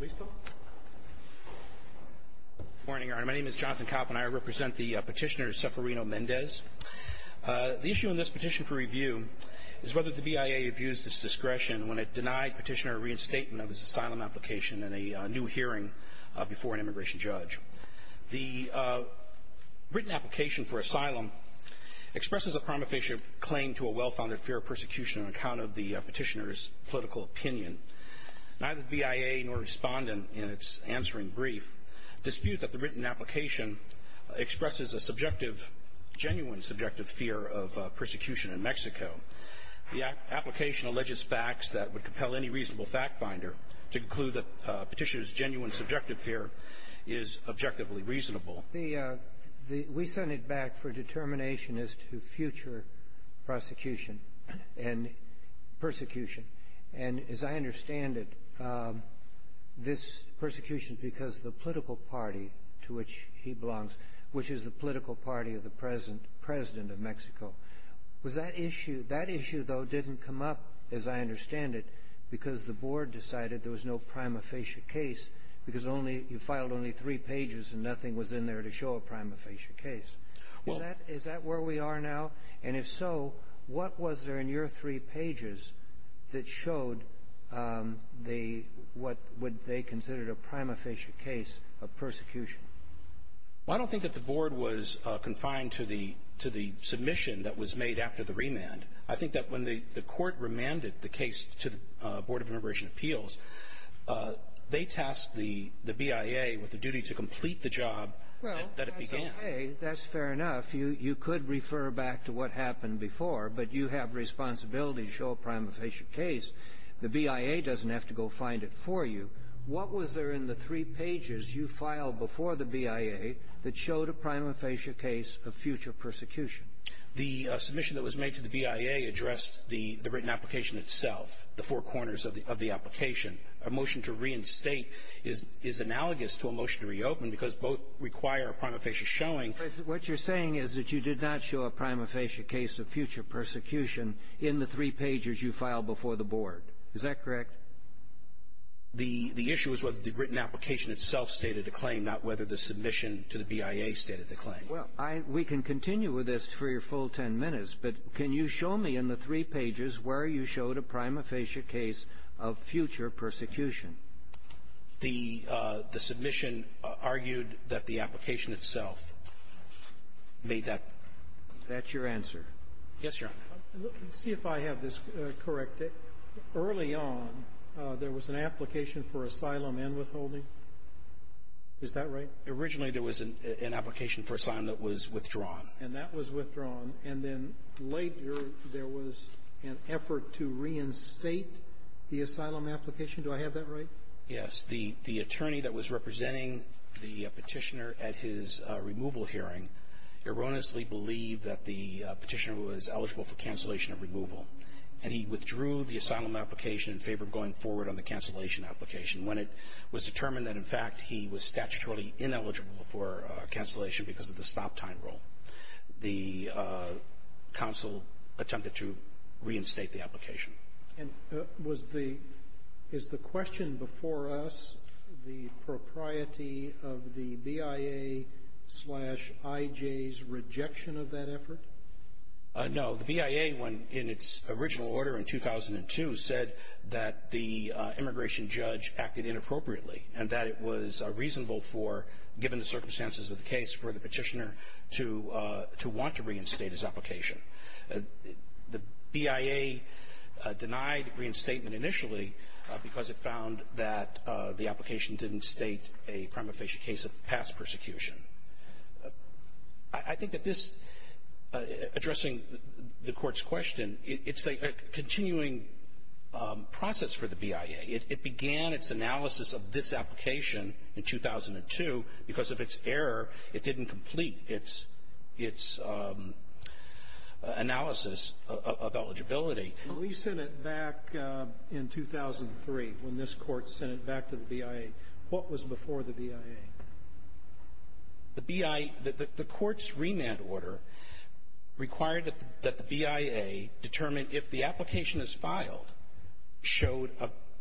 Good morning, Your Honor. My name is Jonathan Kopp, and I represent the petitioner Seferino Mendez. The issue in this petition for review is whether the BIA abused its discretion when it denied petitioner a reinstatement of his asylum application in a new hearing before an immigration judge. The written application for asylum expresses a prima facie claim to a well-founded fear of persecution on account of the petitioner's political opinion. Neither BIA nor Respondent in its answering brief dispute that the written application expresses a subjective, genuine subjective fear of persecution in Mexico. The application alleges facts that would compel any reasonable fact-finder to conclude that the petitioner's genuine subjective fear is objectively reasonable. SEFERINO MENDEZ-GUTIERREZ We sent it back for determination as to future prosecution and persecution. And as I understand it, this persecution because the political party to which he belongs, which is the political party of the President of Mexico, was that issue — that issue, though, didn't come up, as I understand it, because the board decided there was no prima facie case, because only — you filed only three pages, and nothing was in there to show a prima facie case. Is that where we are now? And if so, what was there in your three pages that showed the — what would they consider a prima facie case of persecution? Well, I don't think that the board was confined to the — to the submission that was made after the remand. I think that when the court remanded the case to the Board of Immigration Appeals, they tasked the BIA with the duty to complete the job that it began. Okay, that's fair enough. You could refer back to what happened before, but you have responsibility to show a prima facie case. The BIA doesn't have to go find it for you. What was there in the three pages you filed before the BIA that showed a prima facie case of future persecution? The submission that was made to the BIA addressed the written application itself, the four corners of the application. A motion to reinstate is analogous to a motion to reopen, because both require a prima facie showing. But what you're saying is that you did not show a prima facie case of future persecution in the three pages you filed before the board. Is that correct? The issue is whether the written application itself stated the claim, not whether the submission to the BIA stated the claim. Well, I — we can continue with this for your full 10 minutes, but can you show me in the three pages where you showed a prima facie case of future persecution? The submission argued that the application itself made that. That's your answer. Yes, Your Honor. Let me see if I have this correct. Early on, there was an application for asylum and withholding. Is that right? Originally, there was an application for asylum that was withdrawn. And that was withdrawn. And then later, there was an effort to reinstate the asylum application. Do I have that right? Yes. The attorney that was representing the Petitioner at his removal hearing erroneously believed that the Petitioner was eligible for cancellation of removal. And he withdrew the asylum application in favor of going forward on the cancellation application. When it was determined that, in fact, he was statutorily ineligible for cancellation because of the stop-time rule, the counsel attempted to reinstate the application. And was the – is the question before us the propriety of the BIA-slash-IJ's rejection of that effort? No. The BIA, in its original order in 2002, said that the immigration judge acted inappropriately and that it was reasonable for, given the circumstances of the case, for the Petitioner to want to reinstate his application. The BIA denied reinstatement initially because it found that the application didn't state a prima facie case of past persecution. I think that this, addressing the Court's question, it's a continuing process for the BIA. It began its analysis of this application in 2002 because of its error. It didn't complete its – its analysis of eligibility. When we sent it back in 2003, when this Court sent it back to the BIA, what was before the BIA? The BIA – the Court's remand order required that the BIA determine if the application is filed showed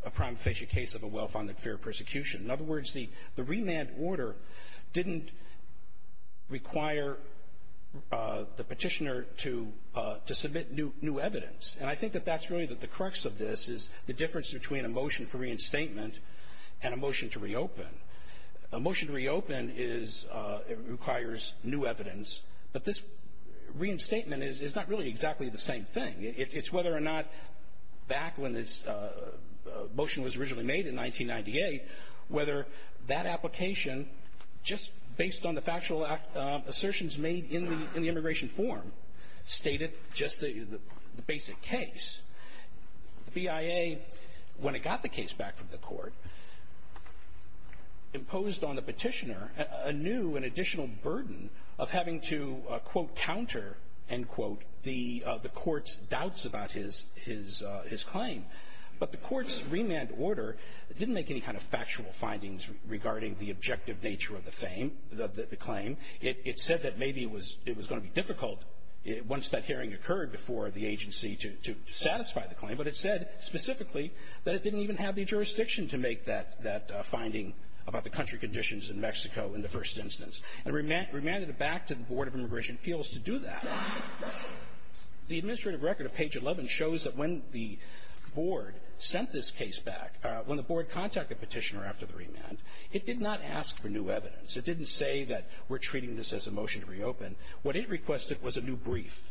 a prima facie case of a well-founded fear of persecution. In other words, the – the remand order didn't require the Petitioner to – to submit new – new evidence. And I think that that's really the crux of this, is the difference between a motion for reinstatement and a motion to reopen. A motion to reopen is – requires new evidence, but this reinstatement is – is not really exactly the same thing. It's whether or not back when this motion was originally made in 1998, whether that application, just based on the factual assertions made in the immigration form, stated just the basic case. The BIA, when it got the case back from the Court, imposed on the Petitioner a new and his – his claim. But the Court's remand order didn't make any kind of factual findings regarding the objective nature of the fame – the claim. It said that maybe it was – it was going to be difficult once that hearing occurred before the agency to – to satisfy the claim, but it said specifically that it didn't even have the jurisdiction to make that – that finding about the country conditions in Mexico in the first instance. It remanded it back to the Board of Immigration Appeals to do that. The administrative record of page 11 shows that when the Board sent this case back – when the Board contacted Petitioner after the remand, it did not ask for new evidence. It didn't say that we're treating this as a motion to reopen. What it requested was a new brief.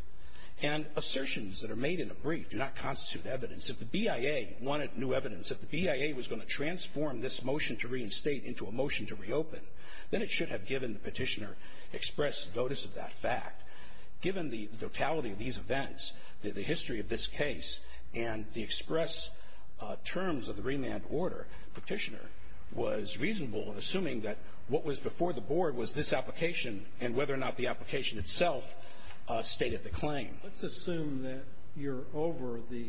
And assertions that are made in a brief do not constitute evidence. If the BIA wanted new evidence, if the BIA was going to transform this motion to reinstate into a motion to reopen, then it should have given the Petitioner express notice of that fact. Given the totality of these events, the history of this case, and the express terms of the remand order, Petitioner was reasonable in assuming that what was before the Board was this application and whether or not the application itself stated the claim. Let's assume that you're over the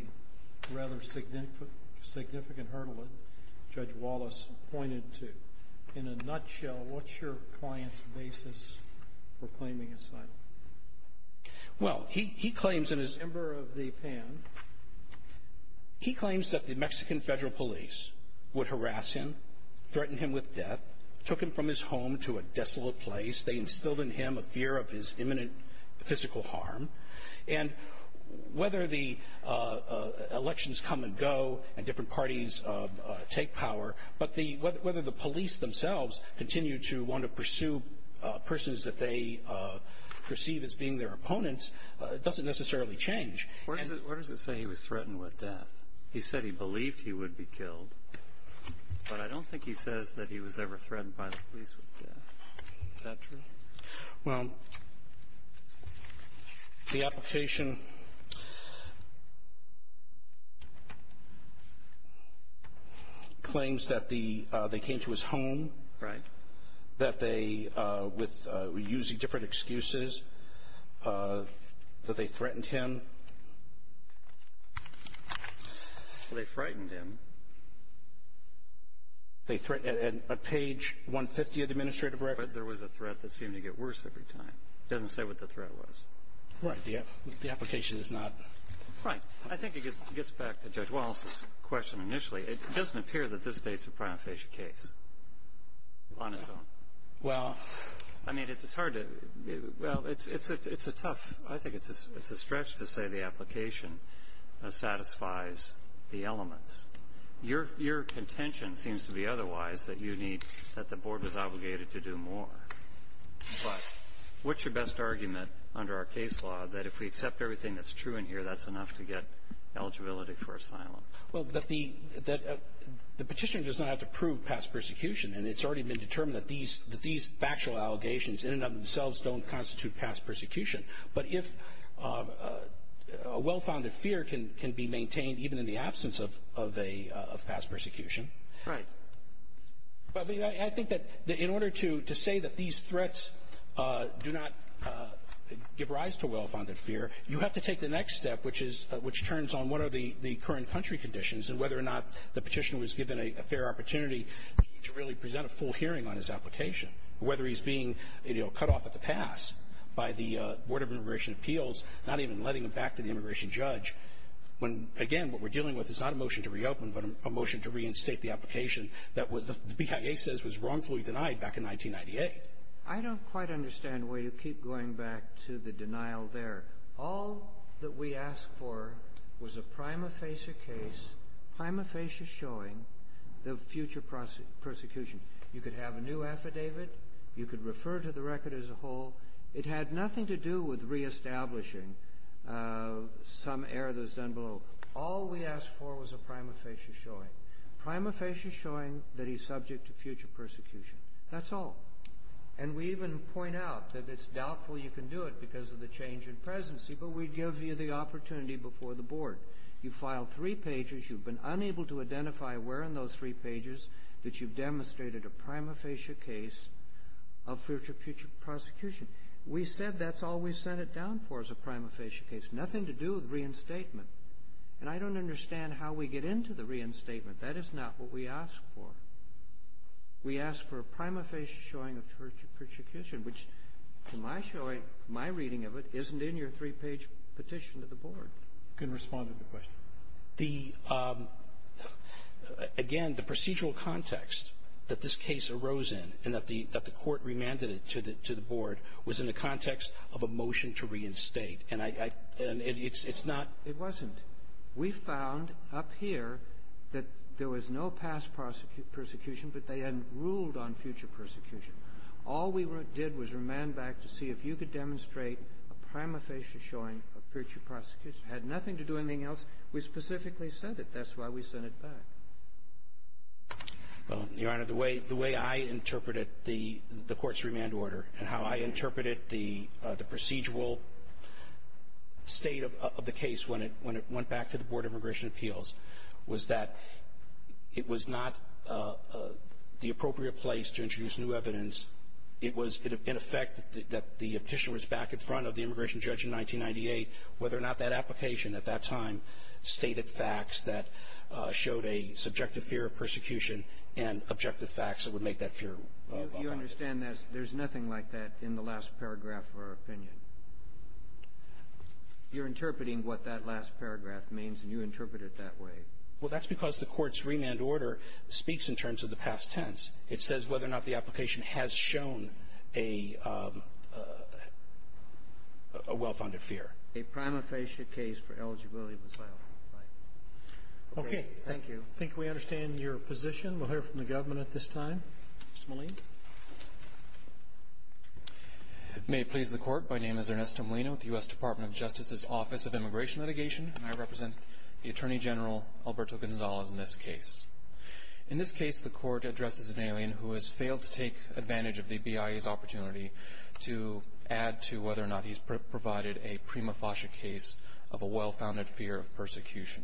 rather significant hurdle that Judge Wallace pointed to. In a nutshell, what's your client's basis for claiming asylum? Well, he claims in his member of the PAN, he claims that the Mexican federal police would harass him, threaten him with death, took him from his home to a desolate place. They instilled in him a fear of his imminent physical harm. And whether the elections come and go and different parties take power, but the – whether the police themselves continue to want to pursue persons that they perceive as being their opponents doesn't necessarily change. Where does it say he was threatened with death? He said he believed he would be killed, but I don't think he says that he was ever threatened by the police with death. Is that true? Well, the application claims that the – they came to his home. Right. That they, with – using different excuses, that they threatened him. They frightened him. They threatened – at page 150 of the administrative record. But there was a threat that seemed to get worse every time. It doesn't say what the threat was. Right. The application is not – Right. I think it gets back to Judge Wallace's question initially. It doesn't appear that this states a prima facie case on its own. Well – I mean, it's hard to – well, it's a tough – I think it's a stretch to say the application satisfies the elements. Your contention seems to be otherwise, that you need – that the board is obligated to do more. But what's your best argument under our case law that if we accept everything that's true in here, that's enough to get eligibility for asylum? Well, that the petitioner does not have to prove past persecution, and it's already been determined that these factual allegations in and of themselves don't constitute past persecution. But if a well-founded fear can be maintained even in the absence of past persecution – Right. Well, I mean, I think that in order to say that these threats do not give rise to well-founded fear, you have to take the next step, which is – which turns on what are the current country conditions and whether or not the petitioner was given a fair opportunity to really present a full hearing on his application, whether he's being cut off at the pass by the Board of Immigration Appeals, not even letting him back to the immigration judge, when, again, what we're dealing with is not a motion to reopen, but a motion to reinstate the application that the BIA says was wrongfully denied back in 1998. I don't quite understand why you keep going back to the denial there. All that we asked for was a prima facie case, prima facie showing the future persecution. You could have a new affidavit. You could refer to the record as a whole. It had nothing to do with reestablishing some error that was done below. All we asked for was a prima facie showing. Prima facie showing that he's subject to future persecution. That's all. And we even point out that it's doubtful you can do it because of the change in presidency, but we give you the opportunity before the Board. You file three pages. You've been unable to identify where in those three pages that you've demonstrated a prima facie case of future persecution. We said that's all we sent it down for is a prima facie case. Nothing to do with reinstatement. And I don't understand how we get into the reinstatement. That is not what we ask for. We ask for a prima facie showing of future persecution, which, to my reading of it, isn't in your three-page petition to the Board. You can respond to the question. Again, the procedural context that this case arose in and that the Court remanded it to the Board was in the context of a motion to reinstate. And it's not — It wasn't. We found up here that there was no past persecution, but they had ruled on future persecution. All we did was remand back to see if you could demonstrate a prima facie showing of future persecution. It had nothing to do with anything else. We specifically sent it. That's why we sent it back. Well, Your Honor, the way I interpreted the Court's remand order and how I interpreted the procedural state of the case when it went back to the Board of Immigration Appeals was that it was not the appropriate place to introduce new evidence. It was, in effect, that the petition was back in front of the immigration judge in 1998, whether or not that application at that time stated facts that showed a subjective fear of persecution and objective facts that would make that fear less obvious. You understand that there's nothing like that in the last paragraph of our opinion? You're interpreting what that last paragraph means, and you interpret it that way. Well, that's because the Court's remand order speaks in terms of the past tense. It says whether or not the application has shown a well-founded fear. A prima facie case for eligibility of asylum. Right. Okay. Thank you. I think we understand your position. We'll hear from the government at this time. Mr. Molina. May it please the Court, my name is Ernesto Molina with the U.S. Department of Justice's Office of Immigration Litigation, and I represent the Attorney General Alberto Gonzalez in this case. In this case, the Court addresses an alien who has failed to take advantage of the BIA's opportunity to add to whether or not he's provided a prima facie case of a well-founded fear of persecution.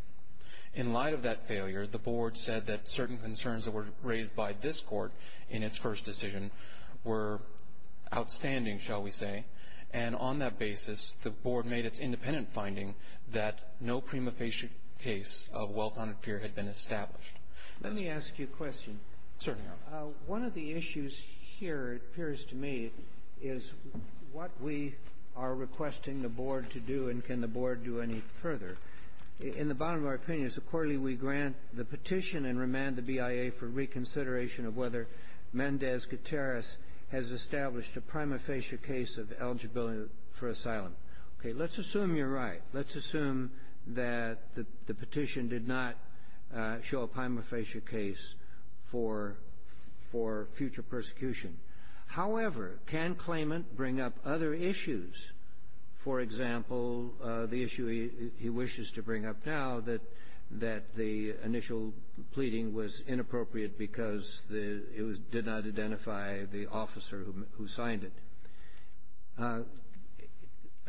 In light of that failure, the Board said that certain concerns that were raised by this Court in its first decision were outstanding, shall we say, and on that basis, the Board made its independent finding that no prima facie case of well-founded fear had been established. Let me ask you a question. Certainly, Your Honor. One of the issues here, it appears to me, is what we are requesting the Board to do and can the Board do any further. In the bottom of our opinions, accordingly, we grant the petition and remand the BIA for reconsideration of whether Mendez Gutierrez has established a prima facie case of eligibility for asylum. Okay. Let's assume you're right. Let's assume that the petition did not show a prima facie case for future persecution. However, can claimant bring up other issues? For example, the issue he wishes to bring up now, that the initial pleading was inappropriate because it did not identify the officer who signed it.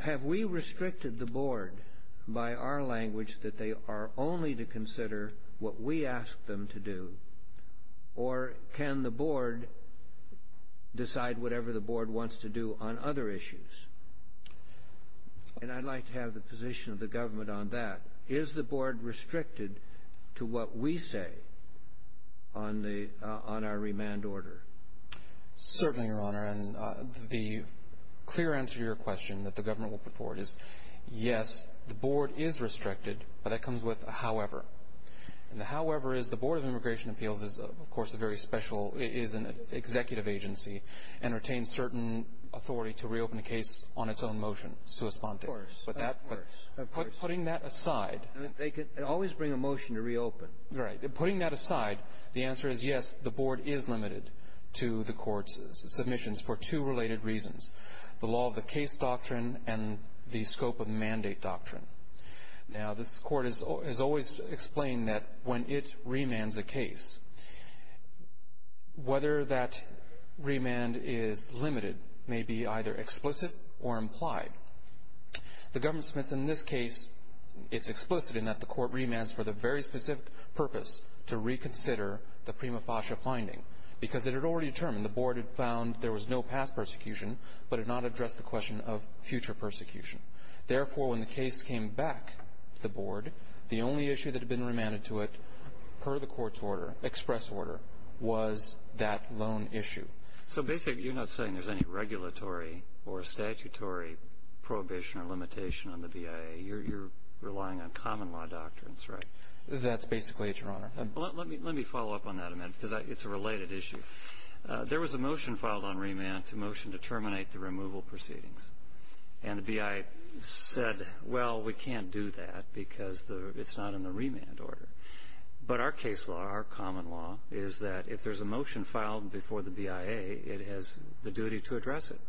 Have we restricted the Board by our language that they are only to consider what we ask them to do or can the Board decide whatever the Board wants to do on other issues? And I'd like to have the position of the government on that. Is the Board restricted to what we say on our remand order? Certainly, Your Honor. And the clear answer to your question that the government will put forward is, yes, the Board is restricted, but that comes with a however. And the however is the Board of Immigration Appeals is, of course, a very special executive agency and retains certain authority to reopen a case on its own motion, sua sponte. Of course. Of course. Putting that aside. They could always bring a motion to reopen. Right. Putting that aside, the answer is, yes, the Board is limited to the court's submissions for two related reasons, the law of the case doctrine and the scope of mandate doctrine. Now, this court has always explained that when it remands a case, whether that remand is limited may be either explicit or implied. The government submits in this case, it's explicit in that the court remands for the very specific purpose to reconsider the prima facie finding. Because it had already determined, the Board had found there was no past persecution but had not addressed the question of future persecution. Therefore, when the case came back to the Board, the only issue that had been remanded to it per the court's order, express order, was that loan issue. So basically, you're not saying there's any regulatory or statutory prohibition or limitation on the BIA. You're relying on common law doctrines, right? That's basically it, Your Honor. Let me follow up on that a minute because it's a related issue. There was a motion filed on remand to motion to terminate the removal proceedings. And the BIA said, well, we can't do that because it's not in the remand order. But our case law, our common law, is that if there's a motion filed before the BIA, it has the duty to address it.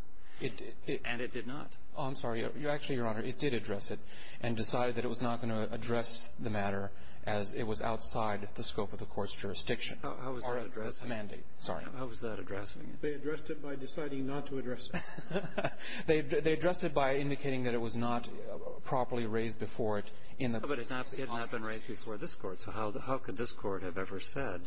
And it did not. Oh, I'm sorry. Actually, Your Honor, it did address it and decided that it was not going to address the matter as it was outside the scope of the court's jurisdiction. Or mandate. How was that addressing it? Sorry. How was that addressing it? They addressed it by deciding not to address it. They addressed it by indicating that it was not properly raised before it in the process. But it had not been raised before this Court. So how could this Court have ever said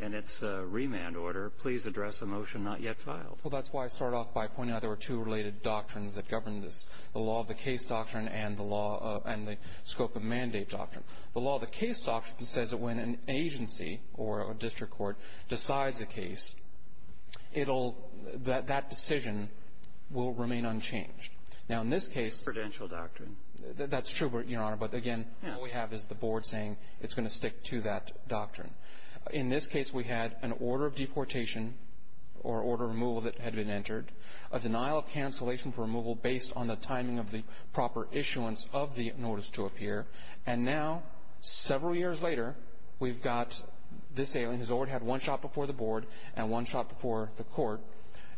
in its remand order, please address a motion not yet filed? Well, that's why I start off by pointing out there were two related doctrines that govern this. The law of the case doctrine and the law of the scope of mandate doctrine. The law of the case doctrine says that when an agency or a district court decides a case, it'll – that decision will remain unchanged. Now, in this case – Credential doctrine. That's true, Your Honor. But, again, all we have is the board saying it's going to stick to that doctrine. In this case, we had an order of deportation or order of removal that had been entered, a denial of cancellation for removal based on the timing of the proper issuance of the notice to appear. And now, several years later, we've got this alien who's already had one shot before the board and one shot before the court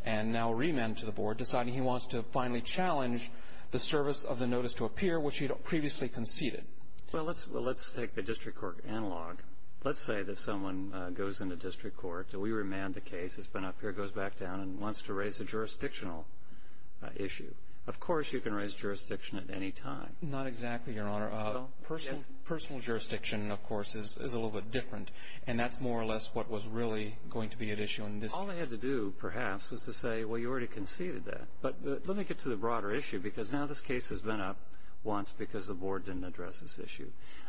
and now remanded to the board, deciding he wants to finally challenge the service of the notice to appear, which he'd previously conceded. Well, let's take the district court analog. Let's say that someone goes into district court. We remand the case. It's been up here. It goes back down and wants to raise a jurisdictional issue. Of course you can raise jurisdiction at any time. Not exactly, Your Honor. Personal jurisdiction, of course, is a little bit different, and that's more or less what was really going to be at issue in this case. All they had to do, perhaps, was to say, well, you already conceded that. But let me get to the broader issue because now this case has been up once because the board didn't address this issue.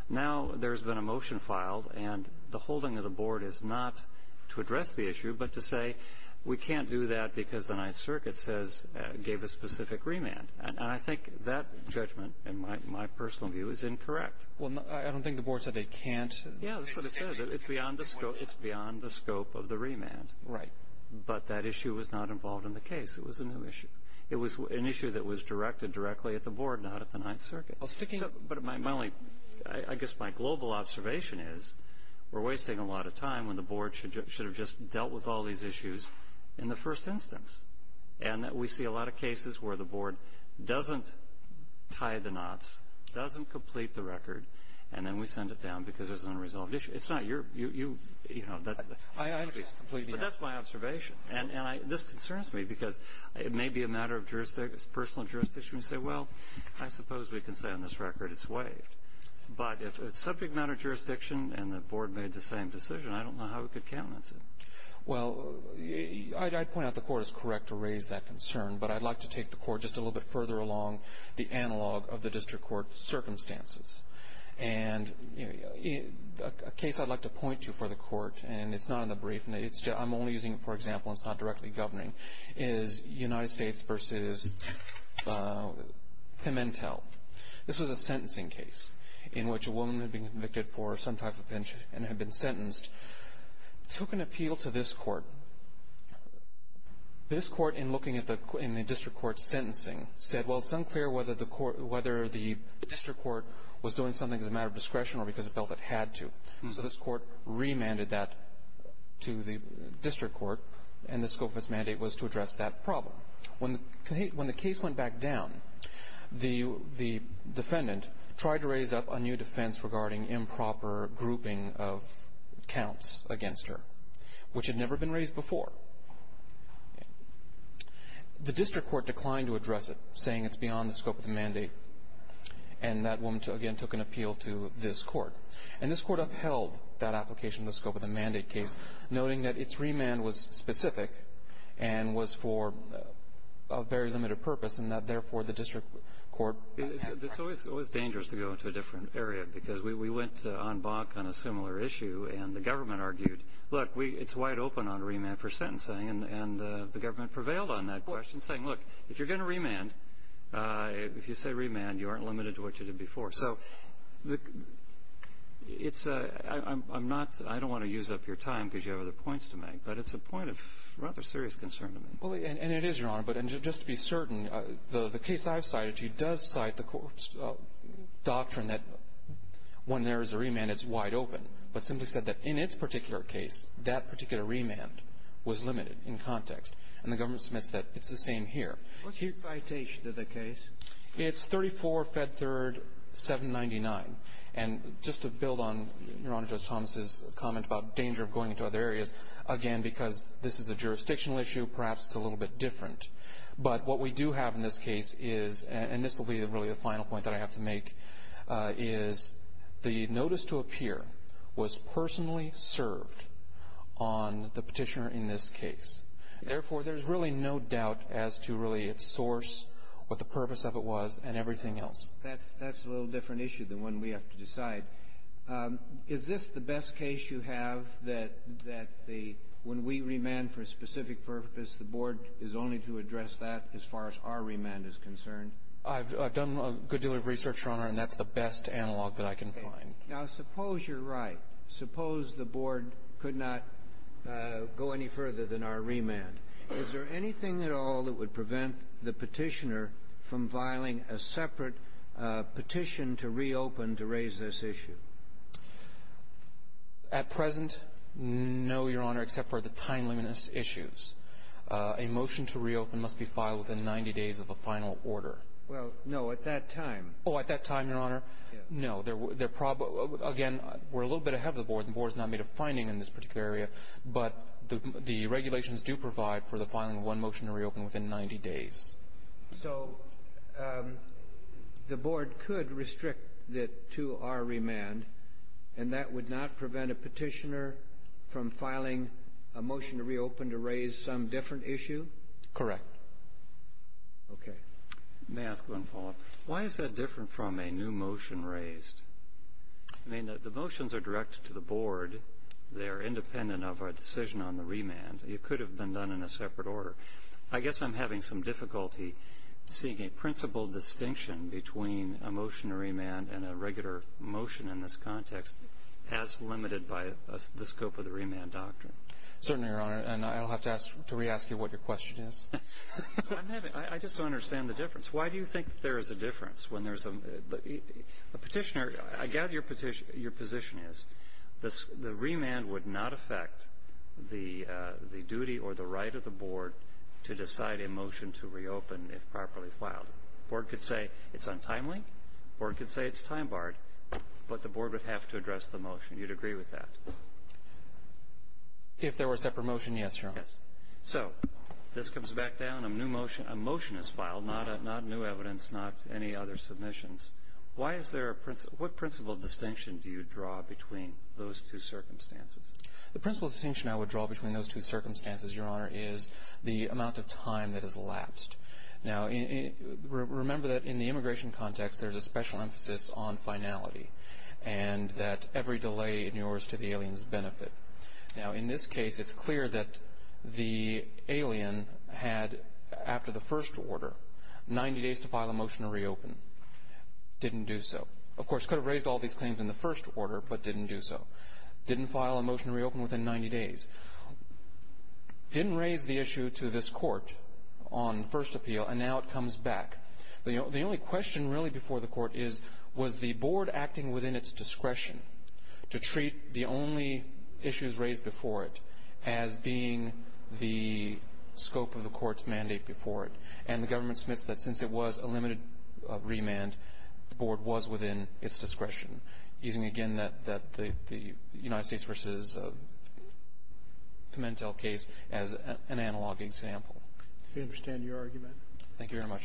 Now there's been a motion filed, and the holding of the board is not to address the issue but to say, we can't do that because the Ninth Circuit gave a specific remand. And I think that judgment, in my personal view, is incorrect. Well, I don't think the board said they can't. Yeah, that's what it said. It's beyond the scope of the remand. Right. But that issue was not involved in the case. It was a new issue. It was an issue that was directed directly at the board, not at the Ninth Circuit. But my only ñ I guess my global observation is we're wasting a lot of time when the board should have just dealt with all these issues in the first instance. And we see a lot of cases where the board doesn't tie the knots, doesn't complete the record, and then we send it down because there's an unresolved issue. It's not your ñ you know, that's the case. But that's my observation. And this concerns me because it may be a matter of personal jurisdiction to say, well, I suppose we can say on this record it's waived. But if it's subject matter jurisdiction and the board made the same decision, I don't know how we could countenance it. Well, I'd point out the court is correct to raise that concern, but I'd like to take the court just a little bit further along the analog of the district court circumstances. And a case I'd like to point to for the court, and it's not in the brief, and I'm only using it for example and it's not directly governing, is United States v. Pimentel. This was a sentencing case in which a woman had been convicted for some type of offense and had been sentenced, took an appeal to this court. This court, in looking at the ñ in the district court's sentencing, said, well, it's unclear whether the court ñ whether the district court was doing something as a matter of discretion or because it felt it had to. So this court remanded that to the district court, and the scope of its mandate was to address that problem. When the case went back down, the defendant tried to raise up a new defense regarding improper grouping of counts against her, which had never been raised before. The district court declined to address it, saying it's beyond the scope of the mandate. And that woman, again, took an appeal to this court. And this court upheld that application in the scope of the mandate case, noting that its remand was specific and was for a very limited purpose, and that, therefore, the district court ñ It's always dangerous to go into a different area, because we went on Bach on a similar issue, and the government argued, look, it's wide open on remand for sentencing. And the government prevailed on that question, saying, look, if you're going to remand, if you say remand, you aren't limited to what you did before. So it's ñ I'm not ñ I don't want to use up your time, because you have other points to make. But it's a point of rather serious concern to me. And it is, Your Honor. But just to be certain, the case I've cited to you does cite the court's doctrine that when there is a remand, it's wide open, but simply said that in its particular case, that particular remand was limited in context. And the government submits that it's the same here. What's your citation of the case? It's 34 Fed Third 799. And just to build on Your Honor Judge Thomas's comment about danger of going into other areas, again, because this is a jurisdictional issue, perhaps it's a little bit different. But what we do have in this case is ñ and this will be really the final point that I have to make ñ is the notice to appear was personally served on the petitioner in this case. Therefore, there's really no doubt as to really its source, what the purpose of it was, and everything else. That's a little different issue than one we have to decide. Is this the best case you have, that the ñ when we remand for a specific purpose, the Board is only to address that as far as our remand is concerned? I've done a good deal of research, Your Honor, and that's the best analog that I can find. Now, suppose you're right. Suppose the Board could not go any further than our remand. Is there anything at all that would prevent the petitioner from filing a separate petition to reopen to raise this issue? At present, no, Your Honor, except for the time-limit issues. A motion to reopen must be filed within 90 days of a final order. Well, no, at that time. Oh, at that time, Your Honor? Yes. No, there ñ again, we're a little bit ahead of the Board. The Board's not made a finding in this particular area, but the regulations do provide for the filing of one motion to reopen within 90 days. So the Board could restrict it to our remand, and that would not prevent a petitioner from filing a motion to reopen to raise some different issue? Correct. Okay. May I ask one follow-up? Why is that different from a new motion raised? I mean, the motions are directed to the Board. They are independent of our decision on the remand. It could have been done in a separate order. I guess I'm having some difficulty seeing a principal distinction between a motion to remand and a regular motion in this context as limited by the scope of the remand doctrine. Certainly, Your Honor, and I'll have to ask ñ to re-ask you what your question is. I'm having ñ I just don't understand the difference. Why do you think there is a difference when there's a ñ a petitioner ñ I gather your position is the remand would not affect the duty or the right of the Board to decide a motion to reopen if properly filed. The Board could say it's untimely. The Board could say it's time-barred. But the Board would have to address the motion. You'd agree with that? If there were a separate motion, yes, Your Honor. So this comes back down. A motion is filed, not new evidence, not any other submissions. Why is there a ñ what principal distinction do you draw between those two circumstances? The principal distinction I would draw between those two circumstances, Your Honor, is the amount of time that has elapsed. Now, remember that in the immigration context there's a special emphasis on finality and that every delay in yours to the alien's benefit. Now, in this case, it's clear that the alien had, after the first order, 90 days to file a motion to reopen. Didn't do so. Of course, could have raised all these claims in the first order, but didn't do so. Didn't file a motion to reopen within 90 days. Didn't raise the issue to this Court on first appeal, and now it comes back. The only question really before the Court is, was the Board acting within its discretion to treat the only issues raised before it as being the scope of the Court's mandate before it? And the government submits that since it was a limited remand, the Board was within its discretion, using, again, the United States v. Pimentel case as an analog example. We understand your argument. Thank you very much.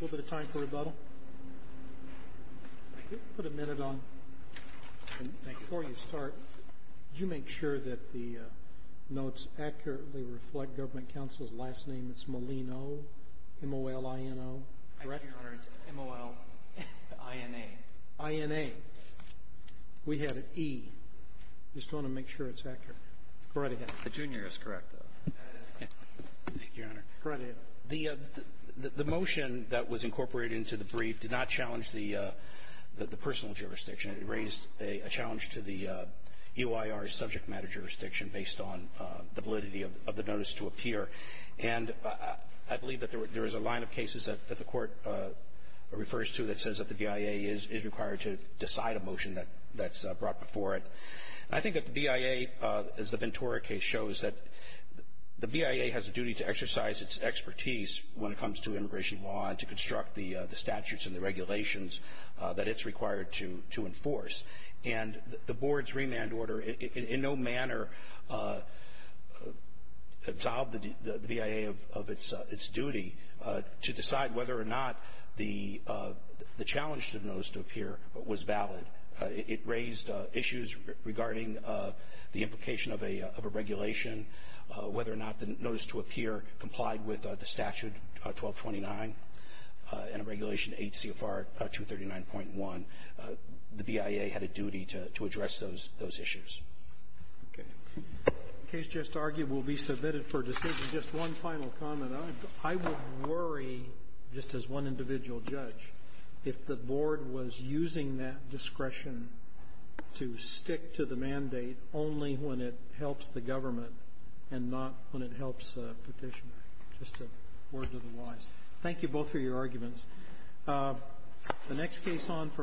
A little bit of time for rebuttal. Put a minute on. Before you start, did you make sure that the notes accurately reflect government counsel's last name? It's Molino, M-O-L-I-N-O, correct? Actually, Your Honor, it's M-O-L-I-N-A. I-N-A. We had an E. Just want to make sure it's accurate. Go right ahead. The junior is correct, though. Thank you, Your Honor. Go right ahead. The motion that was incorporated into the brief did not challenge the personal jurisdiction. It raised a challenge to the EOIR's subject matter jurisdiction based on the validity of the notice to appear. And I believe that there is a line of cases that the Court refers to that says that the BIA is required to decide a motion that's brought before it. I think that the BIA, as the Ventura case shows, that the BIA has a duty to exercise its expertise when it comes to immigration law and to construct the statutes and the regulations that it's required to enforce. And the Board's remand order in no manner absolved the BIA of its duty to decide whether or not the challenge to the notice to appear was valid. It raised issues regarding the implication of a regulation, whether or not the notice to appear complied with the statute 1229 and Regulation 8 CFR 239.1. The BIA had a duty to address those issues. Okay. The case just argued will be submitted for decision. Just one final comment. Well, I would worry, just as one individual judge, if the Board was using that discretion to stick to the mandate only when it helps the government and not when it helps a petitioner. Just a word to the wise. Thank you both for your arguments.